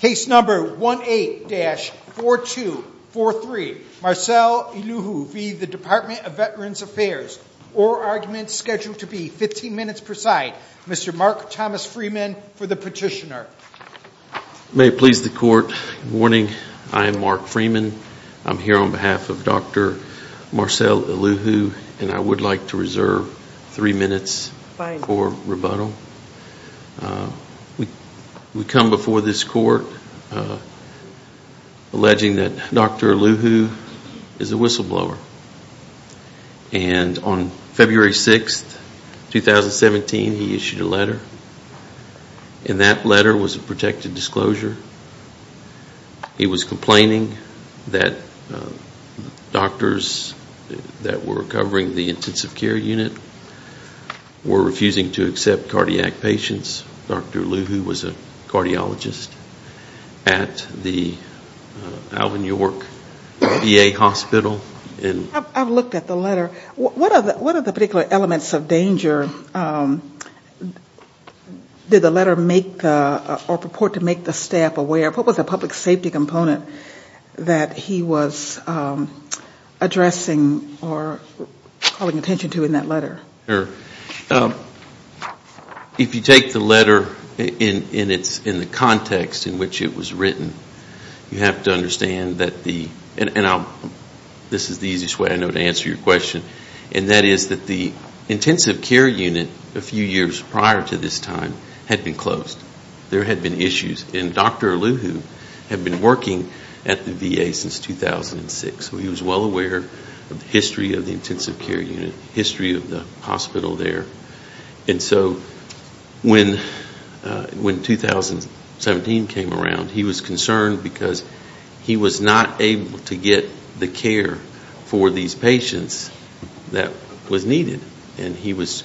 Case number 18-4243, Marcel Eluhu v. Dept of Veterans Affairs. Oral arguments scheduled to be 15 minutes per side. Mr. Mark Thomas Freeman for the petitioner. May it please the court. Good morning, I'm Mark Freeman. I'm here on behalf of Dr. Marcel Eluhu. And I would like to reserve three minutes for rebuttal. We come before this court alleging that Dr. Eluhu is a whistleblower. And on February 6, 2017, he issued a letter. And that letter was a protected disclosure. He was complaining that doctors that were covering the intensive care unit were refusing to accept cardiac patients. Dr. Eluhu was a cardiologist at the Alvin York VA hospital. I've looked at the letter. What are the particular elements of danger did the letter make or purport to make the staff aware? What was the public safety component that he was addressing or calling attention to in that letter? If you take the letter in the context in which it was written, you have to understand that the and this is the easiest way I know to answer your question. And that is that the intensive care unit a few years prior to this time had been closed. There had been issues. And Dr. Eluhu had been working at the VA since 2006. So he was well aware of the history of the intensive care unit, history of the hospital there. And so when 2017 came around, he was concerned because he was not able to get the care for these patients that was needed. And he was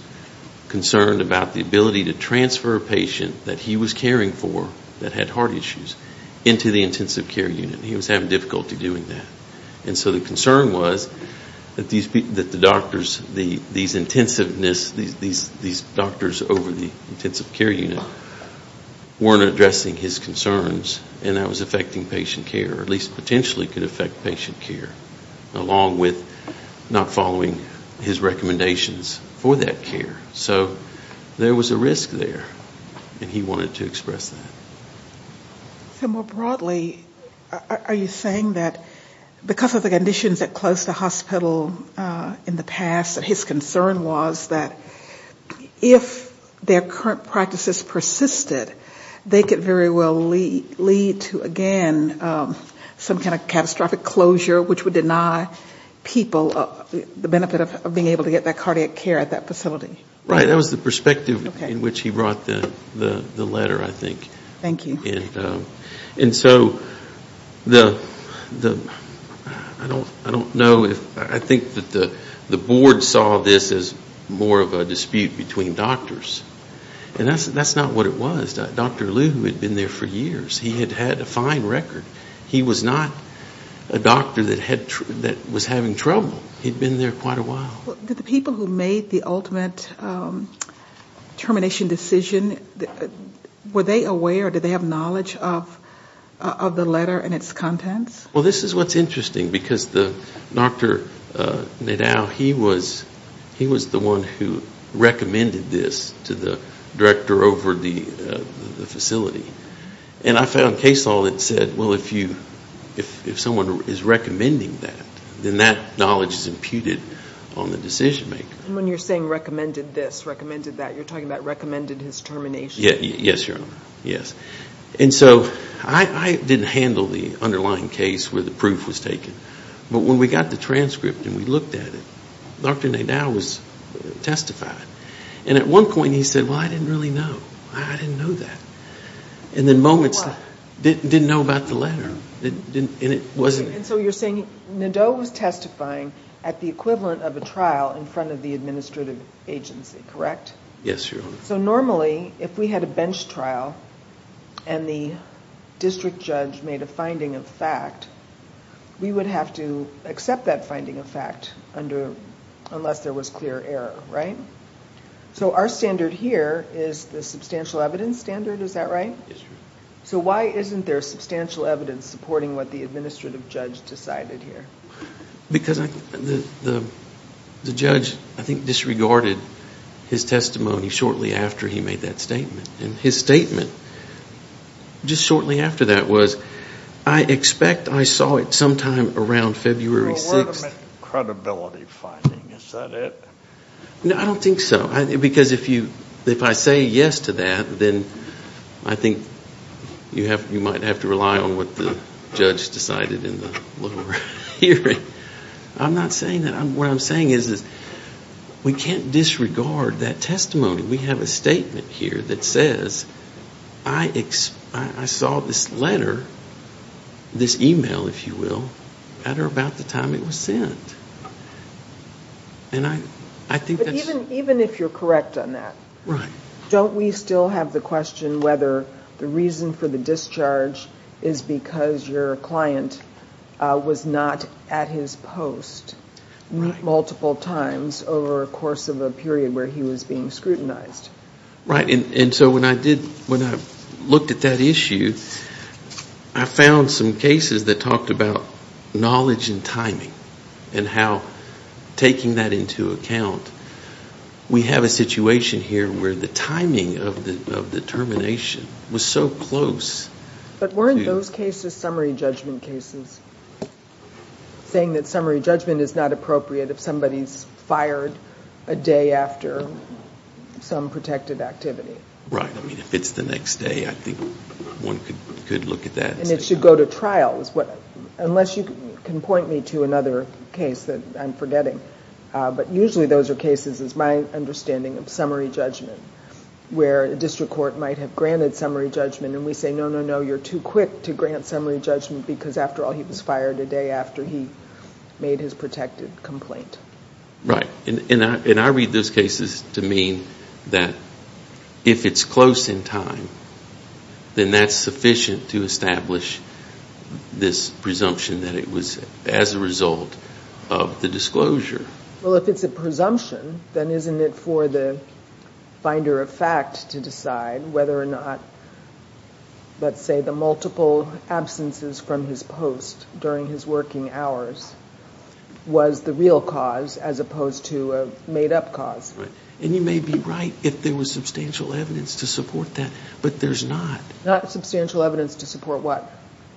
concerned about the ability to transfer a patient that he was caring for that had heart issues into the intensive care unit. He was having difficulty doing that. And so the concern was that these doctors over the intensive care unit weren't addressing his concerns and that was affecting patient care, at least potentially could affect patient care, along with not following his recommendations for that care. So there was a risk there. And he wanted to express that. So more broadly, are you saying that because of the conditions that closed the hospital in the past, his concern was that if their current practices persisted, they could very well lead to, again, some kind of catastrophic closure which would deny people the benefit of being able to get that cardiac care at that facility? Right. That was the perspective in which he brought the letter, I think. Thank you. And so I don't know if the board saw this as more of a dispute between doctors. And that's not what it was. Dr. Eluhu had been there for years. He had had a fine record. He was not a doctor that was having trouble. He'd been there quite a while. Did the people who made the ultimate termination decision, were they aware, did they have knowledge of the letter and its contents? Well, this is what's interesting because Dr. Nedao, he was the one who recommended this to the director over the facility. And I found case law that said, well, if someone is recommending that, then that knowledge is imputed on the decision maker. And when you're saying recommended this, recommended that, you're talking about recommended his termination. Yes, Your Honor. Yes. And so I didn't handle the underlying case where the proof was taken. But when we got the transcript and we looked at it, Dr. Nedao was testifying. And at one point he said, well, I didn't really know. I didn't know that. And then moments later, didn't know about the letter. And so you're saying Nedao was testifying at the equivalent of a trial in front of the administrative agency, correct? Yes, Your Honor. So normally if we had a bench trial and the district judge made a finding of fact, we would have to accept that finding of fact unless there was clear error, right? So our standard here is the substantial evidence standard. Is that right? Yes, Your Honor. So why isn't there substantial evidence supporting what the administrative judge decided here? Because the judge, I think, disregarded his testimony shortly after he made that statement. And his statement just shortly after that was, I expect I saw it sometime around February 6th. Well, what about credibility finding? Is that it? No, I don't think so. Because if I say yes to that, then I think you might have to rely on what the judge decided in the lower hearing. I'm not saying that. What I'm saying is we can't disregard that testimony. We have a statement here that says I saw this letter, this e-mail, if you will, at or about the time it was sent. And I think that's... But even if you're correct on that, don't we still have the question whether the reason for the discharge is because your client was not at his post multiple times over a course of a period where he was being scrutinized? Right. And so when I looked at that issue, I found some cases that talked about knowledge and timing and how taking that into account. We have a situation here where the timing of the termination was so close. But weren't those cases summary judgment cases, saying that summary judgment is not appropriate if somebody's fired a day after some protected activity? Right. I mean, if it's the next day, I think one could look at that. And it should go to trial, unless you can point me to another case that I'm forgetting. But usually those are cases, it's my understanding, of summary judgment, where a district court might have granted summary judgment and we say, no, no, no, you're too quick to grant summary judgment because, after all, he was fired a day after he made his protected complaint. Right. And I read those cases to mean that if it's close in time, then that's sufficient to establish this presumption that it was as a result of the disclosure. Well, if it's a presumption, then isn't it for the finder of fact to decide whether or not, let's say, the multiple absences from his post during his working hours was the real cause as opposed to a made-up cause? Right. And you may be right if there was substantial evidence to support that, but there's not. Not substantial evidence to support what?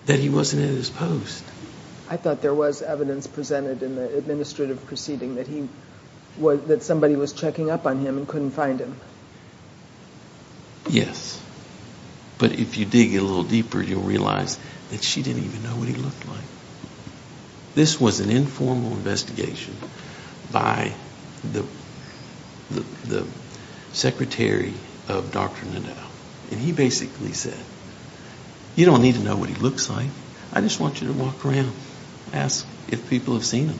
That he wasn't in his post. I thought there was evidence presented in the administrative proceeding that somebody was checking up on him and couldn't find him. Yes. But if you dig a little deeper, you'll realize that she didn't even know what he looked like. This was an informal investigation by the secretary of Dr. Nadal, and he basically said, you don't need to know what he looks like. I just want you to walk around, ask if people have seen him.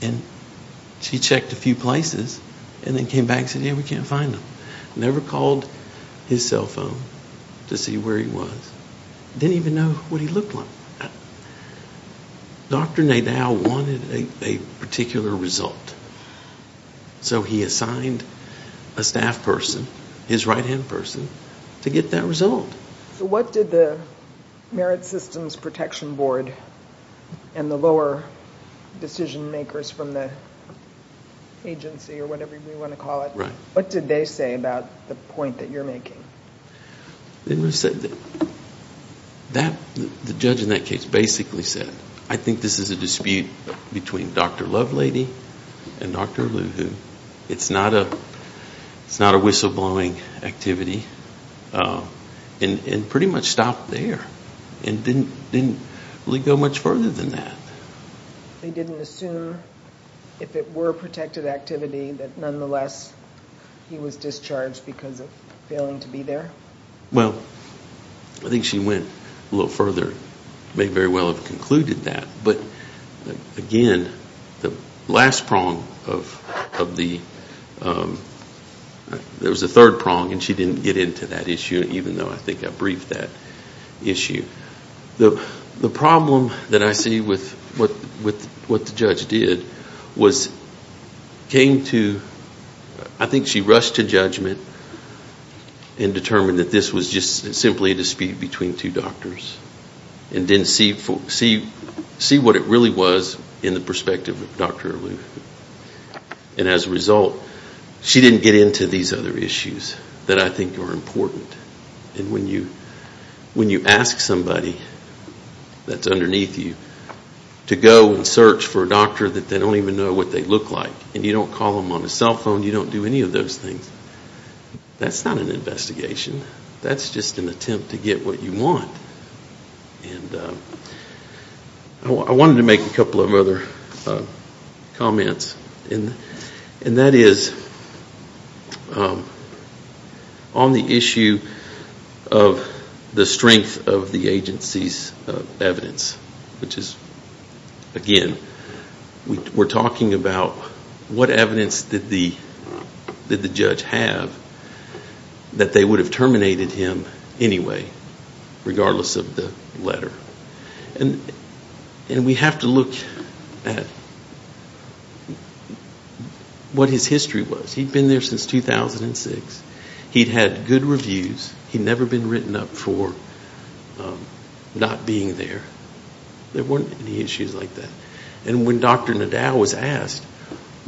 And she checked a few places and then came back and said, yeah, we can't find him. Never called his cell phone to see where he was. Didn't even know what he looked like. Dr. Nadal wanted a particular result, so he assigned a staff person, his right-hand person, to get that result. So what did the Merit Systems Protection Board and the lower decision makers from the agency, or whatever you want to call it, what did they say about the point that you're making? They said that the judge in that case basically said, I think this is a dispute between Dr. Lovelady and Dr. Aluhu. It's not a whistleblowing activity. And pretty much stopped there and didn't really go much further than that. They didn't assume, if it were a protected activity, that nonetheless he was discharged because of failing to be there? Well, I think she went a little further, may very well have concluded that. But again, the last prong of the, there was a third prong, and she didn't get into that issue, even though I think I briefed that issue. The problem that I see with what the judge did was came to, I think she rushed to judgment and determined that this was just simply a dispute between two doctors and didn't see what it really was in the perspective of Dr. Aluhu. And as a result, she didn't get into these other issues that I think are important. And when you ask somebody that's underneath you to go and search for a doctor that they don't even know what they look like, and you don't call them on a cell phone, you don't do any of those things, that's not an investigation. That's just an attempt to get what you want. I wanted to make a couple of other comments. And that is on the issue of the strength of the agency's evidence, which is, again, we're talking about what evidence did the judge have that they would have terminated him anyway, regardless of the letter. And we have to look at what his history was. He'd been there since 2006. He'd had good reviews. He'd never been written up for not being there. There weren't any issues like that. And when Dr. Nadal was asked,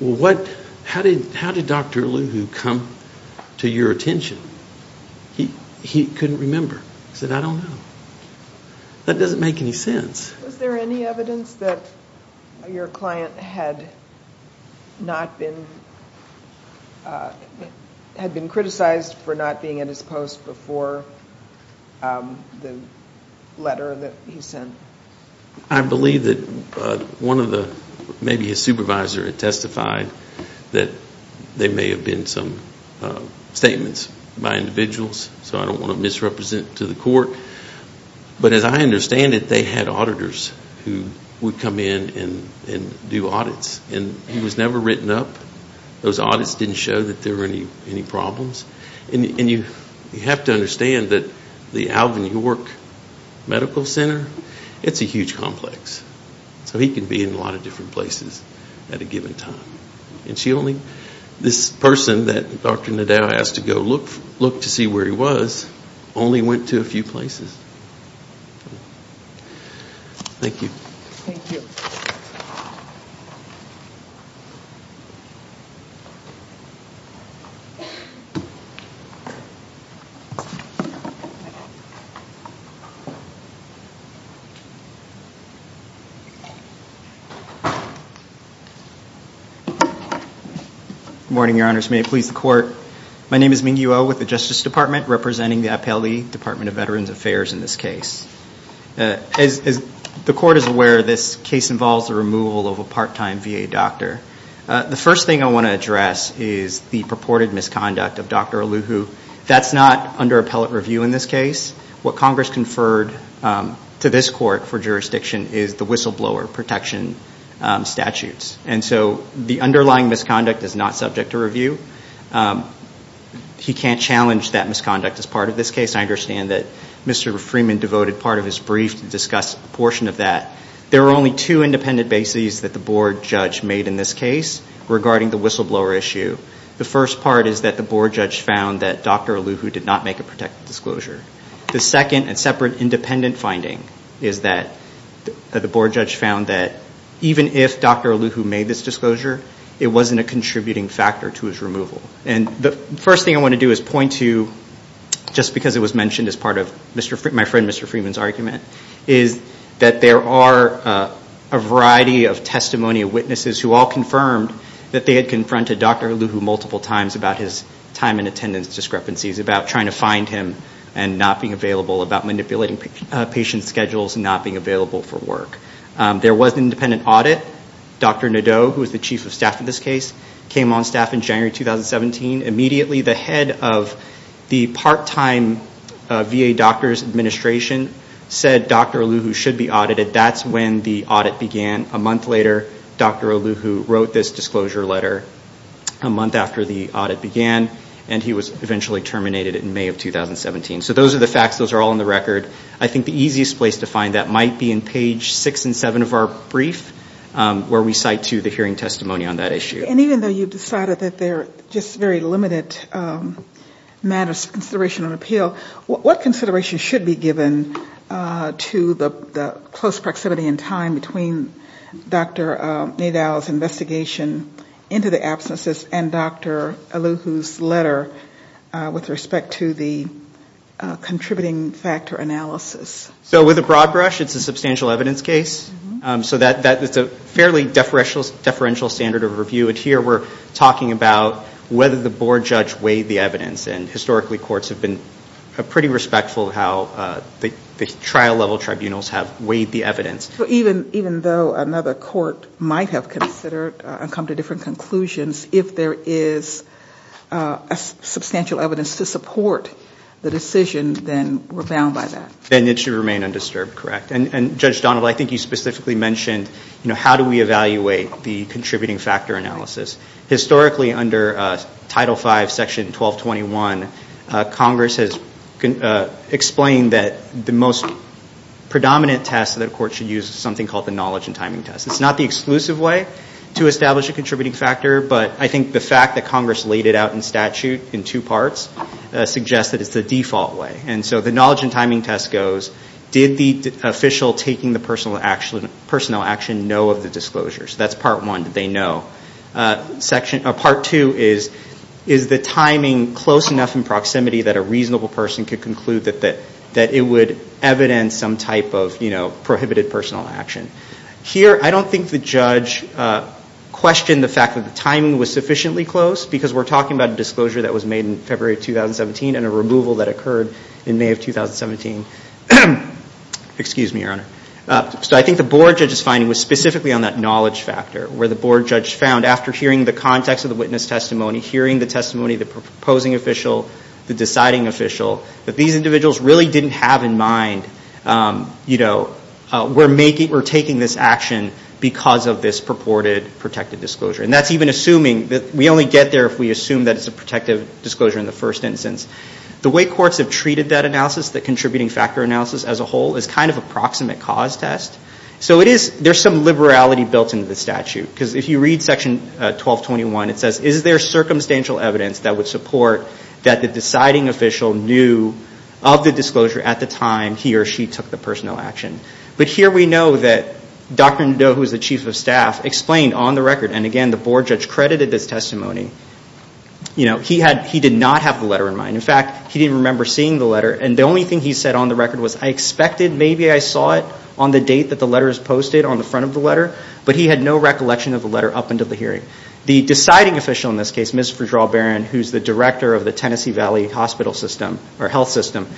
how did Dr. Aluhu come to your attention, he couldn't remember. He said, I don't know. That doesn't make any sense. Was there any evidence that your client had been criticized for not being at his post before the letter that he sent? I believe that maybe his supervisor had testified that there may have been some statements by individuals, so I don't want to misrepresent to the court. But as I understand it, they had auditors who would come in and do audits. And he was never written up. Those audits didn't show that there were any problems. And you have to understand that the Alvin York Medical Center, it's a huge complex. So he can be in a lot of different places at a given time. And this person that Dr. Nadal asked to go look to see where he was only went to a few places. Thank you. Thank you. Good morning, Your Honors. May it please the Court. My name is Ming-Yu Oh with the Justice Department, representing the Appellee Department of Veterans Affairs in this case. As the Court is aware, this case involves the removal of a part-time VA doctor. The first thing I want to address is the purported misconduct of Dr. Aluhu. That's not under appellate review in this case. What Congress conferred to this Court for jurisdiction is the whistleblower protection statutes. And so the underlying misconduct is not subject to review. He can't challenge that misconduct as part of this case. I understand that Mr. Freeman devoted part of his brief to discuss a portion of that. There are only two independent bases that the Board judge made in this case regarding the whistleblower issue. The first part is that the Board judge found that Dr. Aluhu did not make a protective disclosure. The second and separate independent finding is that the Board judge found that even if Dr. Aluhu made this disclosure, it wasn't a contributing factor to his removal. And the first thing I want to do is point to, just because it was mentioned as part of my friend Mr. Freeman's argument, is that there are a variety of testimony of witnesses who all confirmed that they had confronted Dr. Aluhu multiple times about his time and attendance discrepancies, about trying to find him and not being available, about manipulating patient schedules and not being available for work. There was an independent audit. Dr. Nadeau, who was the chief of staff in this case, came on staff in January 2017. Immediately the head of the part-time VA doctor's administration said Dr. Aluhu should be audited. That's when the audit began. A month later, Dr. Aluhu wrote this disclosure letter. A month after the audit began. And he was eventually terminated in May of 2017. So those are the facts. Those are all on the record. I think the easiest place to find that might be in page 6 and 7 of our brief, where we cite to the hearing testimony on that issue. And even though you've decided that they're just very limited matters of consideration and appeal, what consideration should be given to the close proximity in time between Dr. Nadeau's investigation into the absences and Dr. Aluhu's letter with respect to the contributing factor analysis? So with a broad brush, it's a substantial evidence case. So that's a fairly deferential standard of review. And here we're talking about whether the board judge weighed the evidence. And historically, courts have been pretty respectful of how the trial-level tribunals have weighed the evidence. So even though another court might have considered and come to different conclusions, if there is substantial evidence to support the decision, then we're bound by that? Then it should remain undisturbed, correct. And Judge Donald, I think you specifically mentioned how do we evaluate the contributing factor analysis. Historically, under Title V, Section 1221, Congress has explained that the most predominant test that a court should use is something called the knowledge and timing test. It's not the exclusive way to establish a contributing factor, but I think the fact that Congress laid it out in statute in two parts suggests that it's the default way. And so the knowledge and timing test goes, did the official taking the personnel action know of the disclosures? That's part one, did they know? Part two is, is the timing close enough in proximity that a reasonable person could conclude that it would evidence some type of prohibited personnel action? Here, I don't think the judge questioned the fact that the timing was sufficiently close, because we're talking about a disclosure that was made in February 2017 and a removal that occurred in May of 2017. Excuse me, Your Honor. So I think the board judge's finding was specifically on that knowledge factor, where the board judge found after hearing the context of the witness testimony, hearing the testimony of the proposing official, the deciding official, that these individuals really didn't have in mind, you know, we're taking this action because of this purported protective disclosure. And that's even assuming that we only get there if we assume that it's a protective disclosure in the first instance. The way courts have treated that analysis, the contributing factor analysis as a whole, is kind of a proximate cause test. So it is, there's some liberality built into the statute. Because if you read section 1221, it says, is there circumstantial evidence that would support that the deciding official knew of the disclosure at the time he or she took the personnel action? But here we know that Dr. Nadeau, who is the chief of staff, explained on the record, and again, the board judge credited this testimony, you know, he did not have the letter in mind. In fact, he didn't remember seeing the letter. And the only thing he said on the record was, I expected, maybe I saw it on the date that the letter was posted, on the front of the letter. But he had no recollection of the letter up until the hearing. The deciding official in this case, Ms. Fitzgerald Barron, who's the director of the Tennessee Valley hospital system, or health system,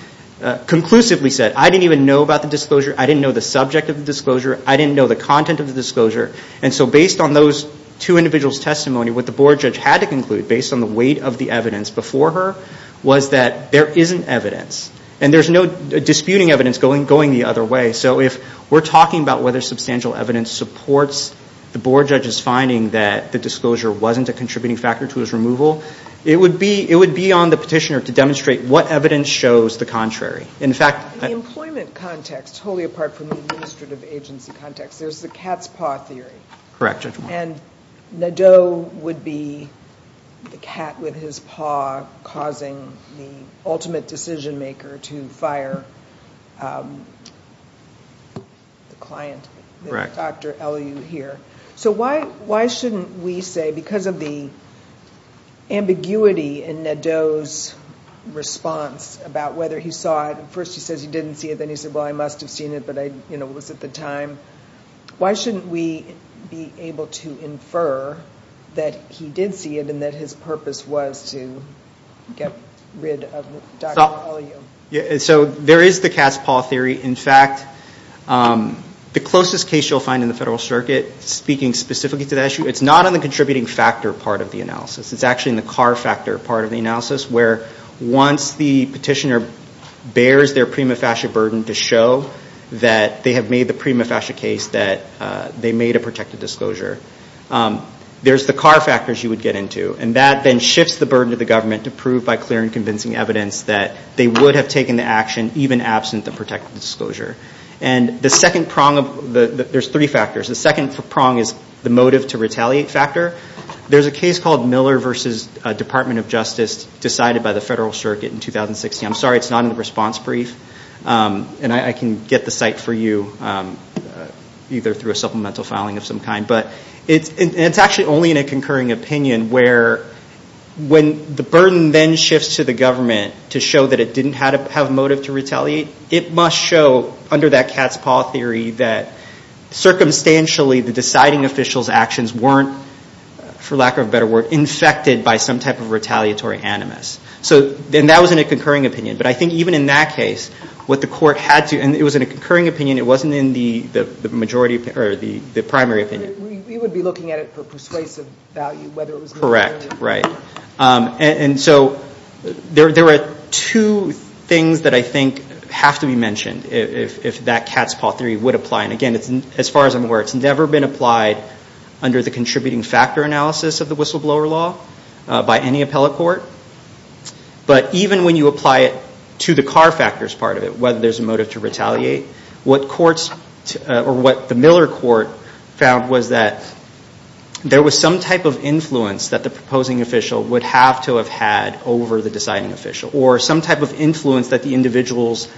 conclusively said, I didn't even know about the disclosure. I didn't know the subject of the disclosure. I didn't know the content of the disclosure. And so based on those two individuals' testimony, what the board judge had to conclude, based on the weight of the evidence before her, was that there isn't evidence. And there's no disputing evidence going the other way. So if we're talking about whether substantial evidence supports the board judge's finding that the disclosure wasn't a contributing factor to his removal, it would be on the petitioner to demonstrate what evidence shows the contrary. In fact, The employment context, totally apart from the administrative agency context, there's the cat's paw theory. Correct, Judge Moore. And Nadeau would be the cat with his paw, causing the ultimate decision maker to fire the client, Dr. Elliott here. So why shouldn't we say, because of the ambiguity in Nadeau's response about whether he saw it, first he says he didn't see it, then he said, well, I must have seen it, but it was at the time. Why shouldn't we be able to infer that he did see it and that his purpose was to get rid of Dr. Elliott? So there is the cat's paw theory. In fact, the closest case you'll find in the Federal Circuit speaking specifically to that issue, it's not on the contributing factor part of the analysis. It's actually in the car factor part of the analysis, where once the petitioner bears their prima facie burden to show that they have made the prima facie case that they made a protected disclosure. There's the car factors you would get into, and that then shifts the burden to the government to prove by clear and convincing evidence that they would have taken the action even absent the protected disclosure. And the second prong of the – there's three factors. The second prong is the motive to retaliate factor. There's a case called Miller v. Department of Justice decided by the Federal Circuit in 2016. I'm sorry, it's not in the response brief. And I can get the site for you either through a supplemental filing of some kind. But it's actually only in a concurring opinion where when the burden then shifts to the government to show that it didn't have motive to retaliate, it must show under that cat's paw theory that circumstantially the deciding official's actions weren't, for lack of a better word, infected by some type of retaliatory animus. And that was in a concurring opinion. But I think even in that case what the court had to – and it was in a concurring opinion. It wasn't in the majority – or the primary opinion. We would be looking at it for persuasive value whether it was – Correct, right. And so there are two things that I think have to be mentioned if that cat's paw theory would apply. And again, as far as I'm aware, it's never been applied under the contributing factor analysis of the whistleblower law by any appellate court. But even when you apply it to the car factors part of it, whether there's a motive to retaliate, what courts – or what the Miller Court found was that there was some type of influence that the proposing official would have to have had over the deciding official or some type of influence that the individuals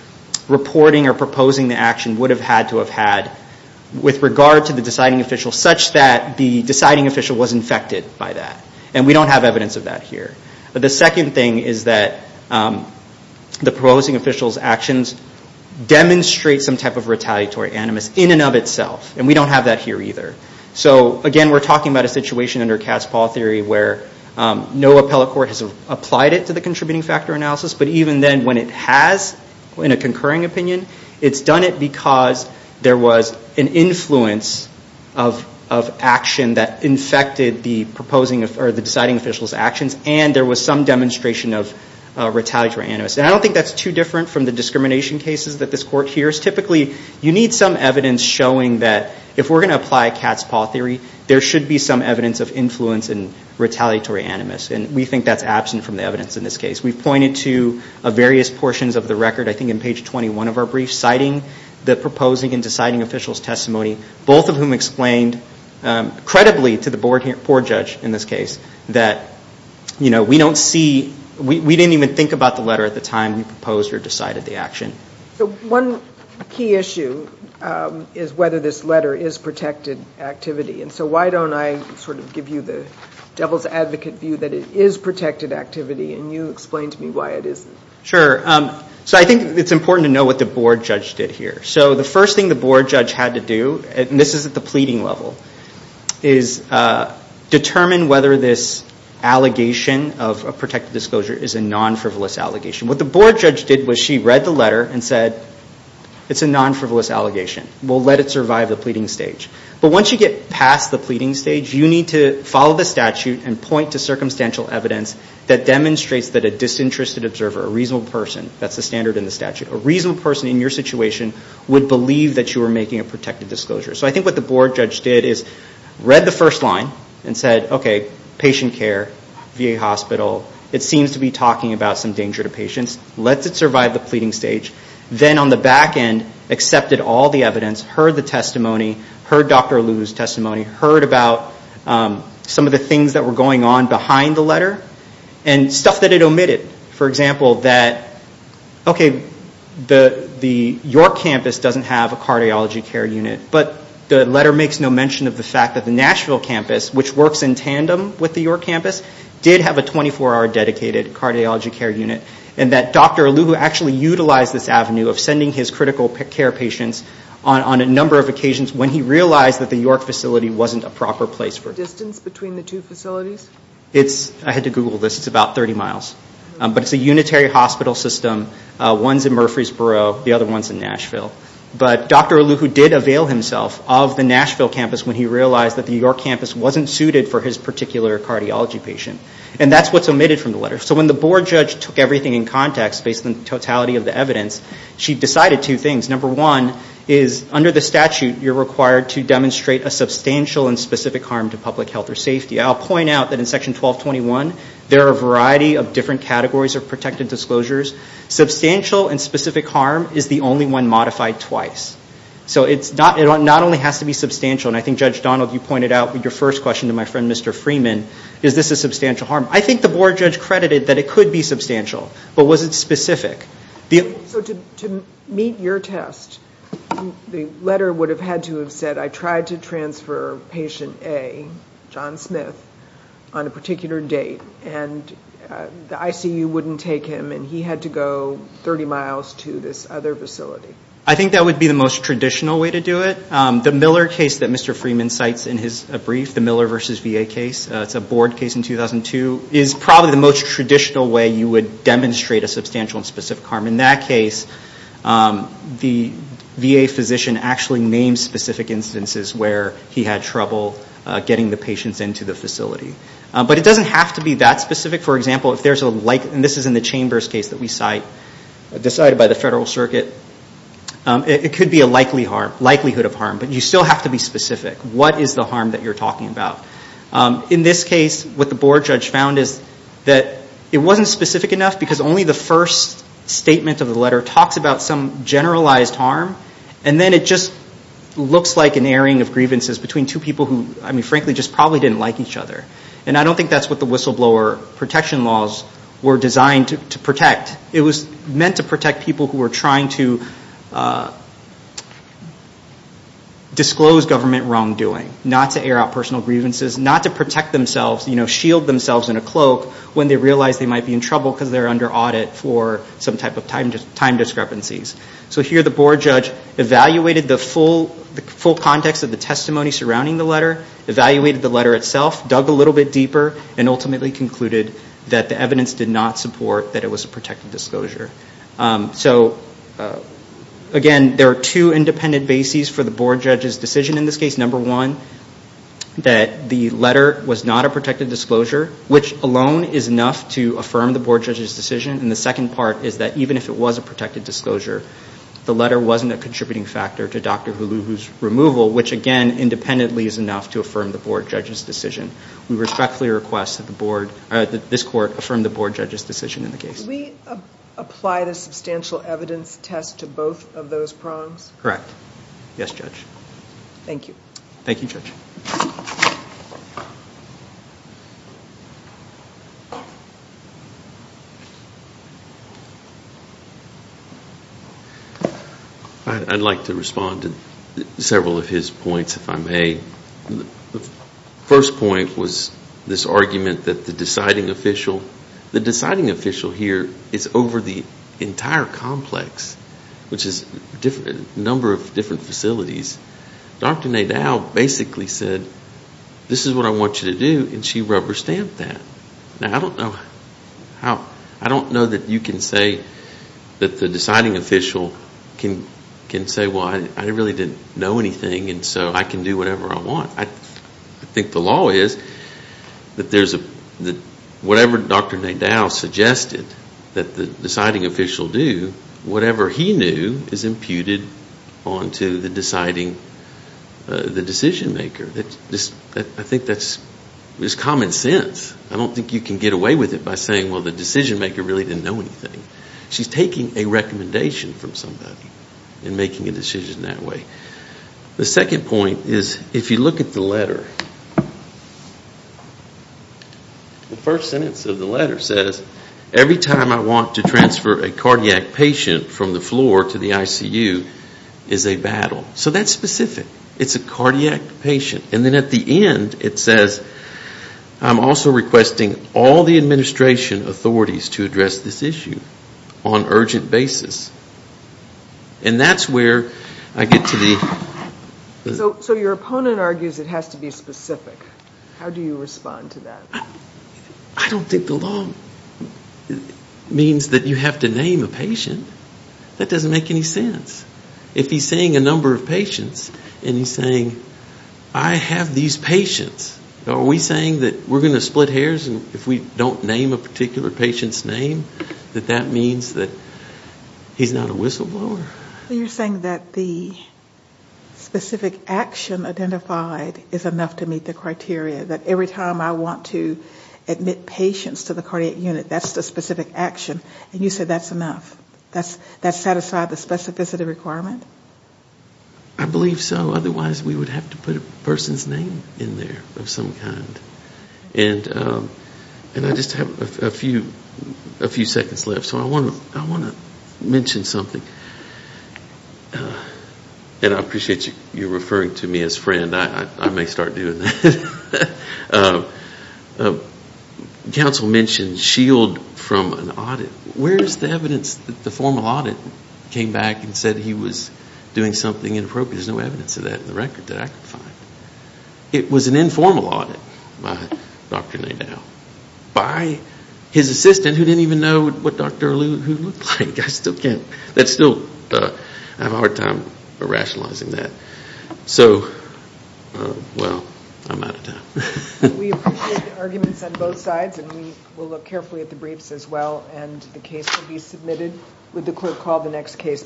reporting or proposing the action would have had to have had with regard to the deciding official such that the deciding official was infected by that. And we don't have evidence of that here. But the second thing is that the proposing official's actions demonstrate some type of retaliatory animus in and of itself. And we don't have that here either. So again, we're talking about a situation under cat's paw theory where no appellate court has applied it to the contributing factor analysis. But even then, when it has in a concurring opinion, it's done it because and there was some demonstration of retaliatory animus. And I don't think that's too different from the discrimination cases that this court hears. Typically, you need some evidence showing that if we're going to apply cat's paw theory, there should be some evidence of influence and retaliatory animus. And we think that's absent from the evidence in this case. We've pointed to various portions of the record, I think in page 21 of our brief, citing the proposing and deciding official's testimony, both of whom explained credibly to the board judge in this case that we don't see we didn't even think about the letter at the time you proposed or decided the action. So one key issue is whether this letter is protected activity. And so why don't I sort of give you the devil's advocate view that it is protected activity, and you explain to me why it isn't. Sure. So I think it's important to know what the board judge did here. So the first thing the board judge had to do, and this is at the pleading level, is determine whether this allegation of a protected disclosure is a non-frivolous allegation. What the board judge did was she read the letter and said it's a non-frivolous allegation. We'll let it survive the pleading stage. But once you get past the pleading stage, you need to follow the statute and point to circumstantial evidence that demonstrates that a disinterested observer, a reasonable person, that's the standard in the statute, a reasonable person in your situation would believe that you were making a protected disclosure. So I think what the board judge did is read the first line and said, okay, patient care, VA hospital, it seems to be talking about some danger to patients. Let's it survive the pleading stage. Then on the back end, accepted all the evidence, heard the testimony, heard Dr. Alulu's testimony, heard about some of the things that were going on behind the letter and stuff that it omitted. For example, that, okay, the York campus doesn't have a cardiology care unit, but the letter makes no mention of the fact that the Nashville campus, which works in tandem with the York campus, did have a 24-hour dedicated cardiology care unit and that Dr. Alulu actually utilized this avenue of sending his critical care patients on a number of occasions when he realized that the York facility wasn't a proper place for it. Is there a distance between the two facilities? I had to Google this. It's about 30 miles. But it's a unitary hospital system. One's in Murfreesboro. The other one's in Nashville. But Dr. Alulu did avail himself of the Nashville campus when he realized that the York campus wasn't suited for his particular cardiology patient. And that's what's omitted from the letter. So when the board judge took everything in context based on the totality of the evidence, she decided two things. Number one is under the statute you're required to demonstrate a substantial and specific harm to public health or safety. I'll point out that in Section 1221 there are a variety of different categories of protected disclosures. Substantial and specific harm is the only one modified twice. So it not only has to be substantial, and I think Judge Donald, you pointed out with your first question to my friend Mr. Freeman, is this a substantial harm? I think the board judge credited that it could be substantial, but was it specific? So to meet your test, the letter would have had to have said, I tried to transfer patient A, John Smith, on a particular date, and the ICU wouldn't take him, and he had to go 30 miles to this other facility. I think that would be the most traditional way to do it. The Miller case that Mr. Freeman cites in his brief, the Miller versus VA case, it's a board case in 2002, is probably the most traditional way you would demonstrate a substantial and specific harm. In that case, the VA physician actually names specific instances where he had trouble getting the patients into the facility. But it doesn't have to be that specific. For example, if there's a like, and this is in the Chambers case that we cite, decided by the Federal Circuit, it could be a likelihood of harm, but you still have to be specific. What is the harm that you're talking about? In this case, what the board judge found is that it wasn't specific enough because only the first statement of the letter talks about some generalized harm, and then it just looks like an airing of grievances between two people who, frankly, just probably didn't like each other. I don't think that's what the whistleblower protection laws were designed to protect. It was meant to protect people who were trying to disclose government wrongdoing, not to air out personal grievances, not to protect themselves, shield themselves in a cloak when they realize they might be in trouble because they're under audit for some type of time discrepancies. Here the board judge evaluated the full context of the testimony surrounding the letter, evaluated the letter itself, dug a little bit deeper, and ultimately concluded that the evidence did not support that it was a protected disclosure. Again, there are two independent bases for the board judge's decision in this case. Number one, that the letter was not a protected disclosure, which alone is enough to affirm the board judge's decision, and the second part is that even if it was a protected disclosure, the letter wasn't a contributing factor to Dr. Huluhu's removal, which, again, independently is enough to affirm the board judge's decision. We respectfully request that this court affirm the board judge's decision in the case. Did we apply the substantial evidence test to both of those prongs? Correct. Yes, Judge. Thank you. Thank you, Judge. I'd like to respond to several of his points, if I may. The first point was this argument that the deciding official, the deciding official here is over the entire complex, which is a number of different facilities. Dr. Nadal basically said, this is what I want you to do, and she rubber stamped that. Now, I don't know that you can say that the deciding official can say, well, I really didn't know anything, and so I can do whatever I want. I think the law is that whatever Dr. Nadal suggested that the deciding official do, whatever he knew is imputed onto the deciding, the decision maker. I think that's common sense. I don't think you can get away with it by saying, well, the decision maker really didn't know anything. She's taking a recommendation from somebody and making a decision that way. The second point is, if you look at the letter, the first sentence of the letter says, every time I want to transfer a cardiac patient from the floor to the ICU is a battle. So that's specific. It's a cardiac patient. And then at the end it says, I'm also requesting all the administration authorities to address this issue on urgent basis. And that's where I get to the... So your opponent argues it has to be specific. How do you respond to that? I don't think the law means that you have to name a patient. That doesn't make any sense. If he's saying a number of patients and he's saying, I have these patients, are we saying that we're going to split hairs if we don't name a particular patient's name, that that means that he's not a whistleblower? You're saying that the specific action identified is enough to meet the criteria, that every time I want to admit patients to the cardiac unit, that's the specific action. And you say that's enough. That satisfies the specificity requirement? I believe so. Otherwise we would have to put a person's name in there of some kind. And I just have a few seconds left. So I want to mention something. And I appreciate you referring to me as friend. I may start doing that. Council mentioned shield from an audit. Where is the evidence that the formal audit came back and said he was doing something inappropriate? There's no evidence of that in the record that I could find. It was an informal audit by Dr. Nadau. By his assistant who didn't even know what Dr. Alou looked like. I still have a hard time rationalizing that. So, well, I'm out of time. We appreciate the arguments on both sides. And we will look carefully at the briefs as well. And the case will be submitted with the clerk call the next case.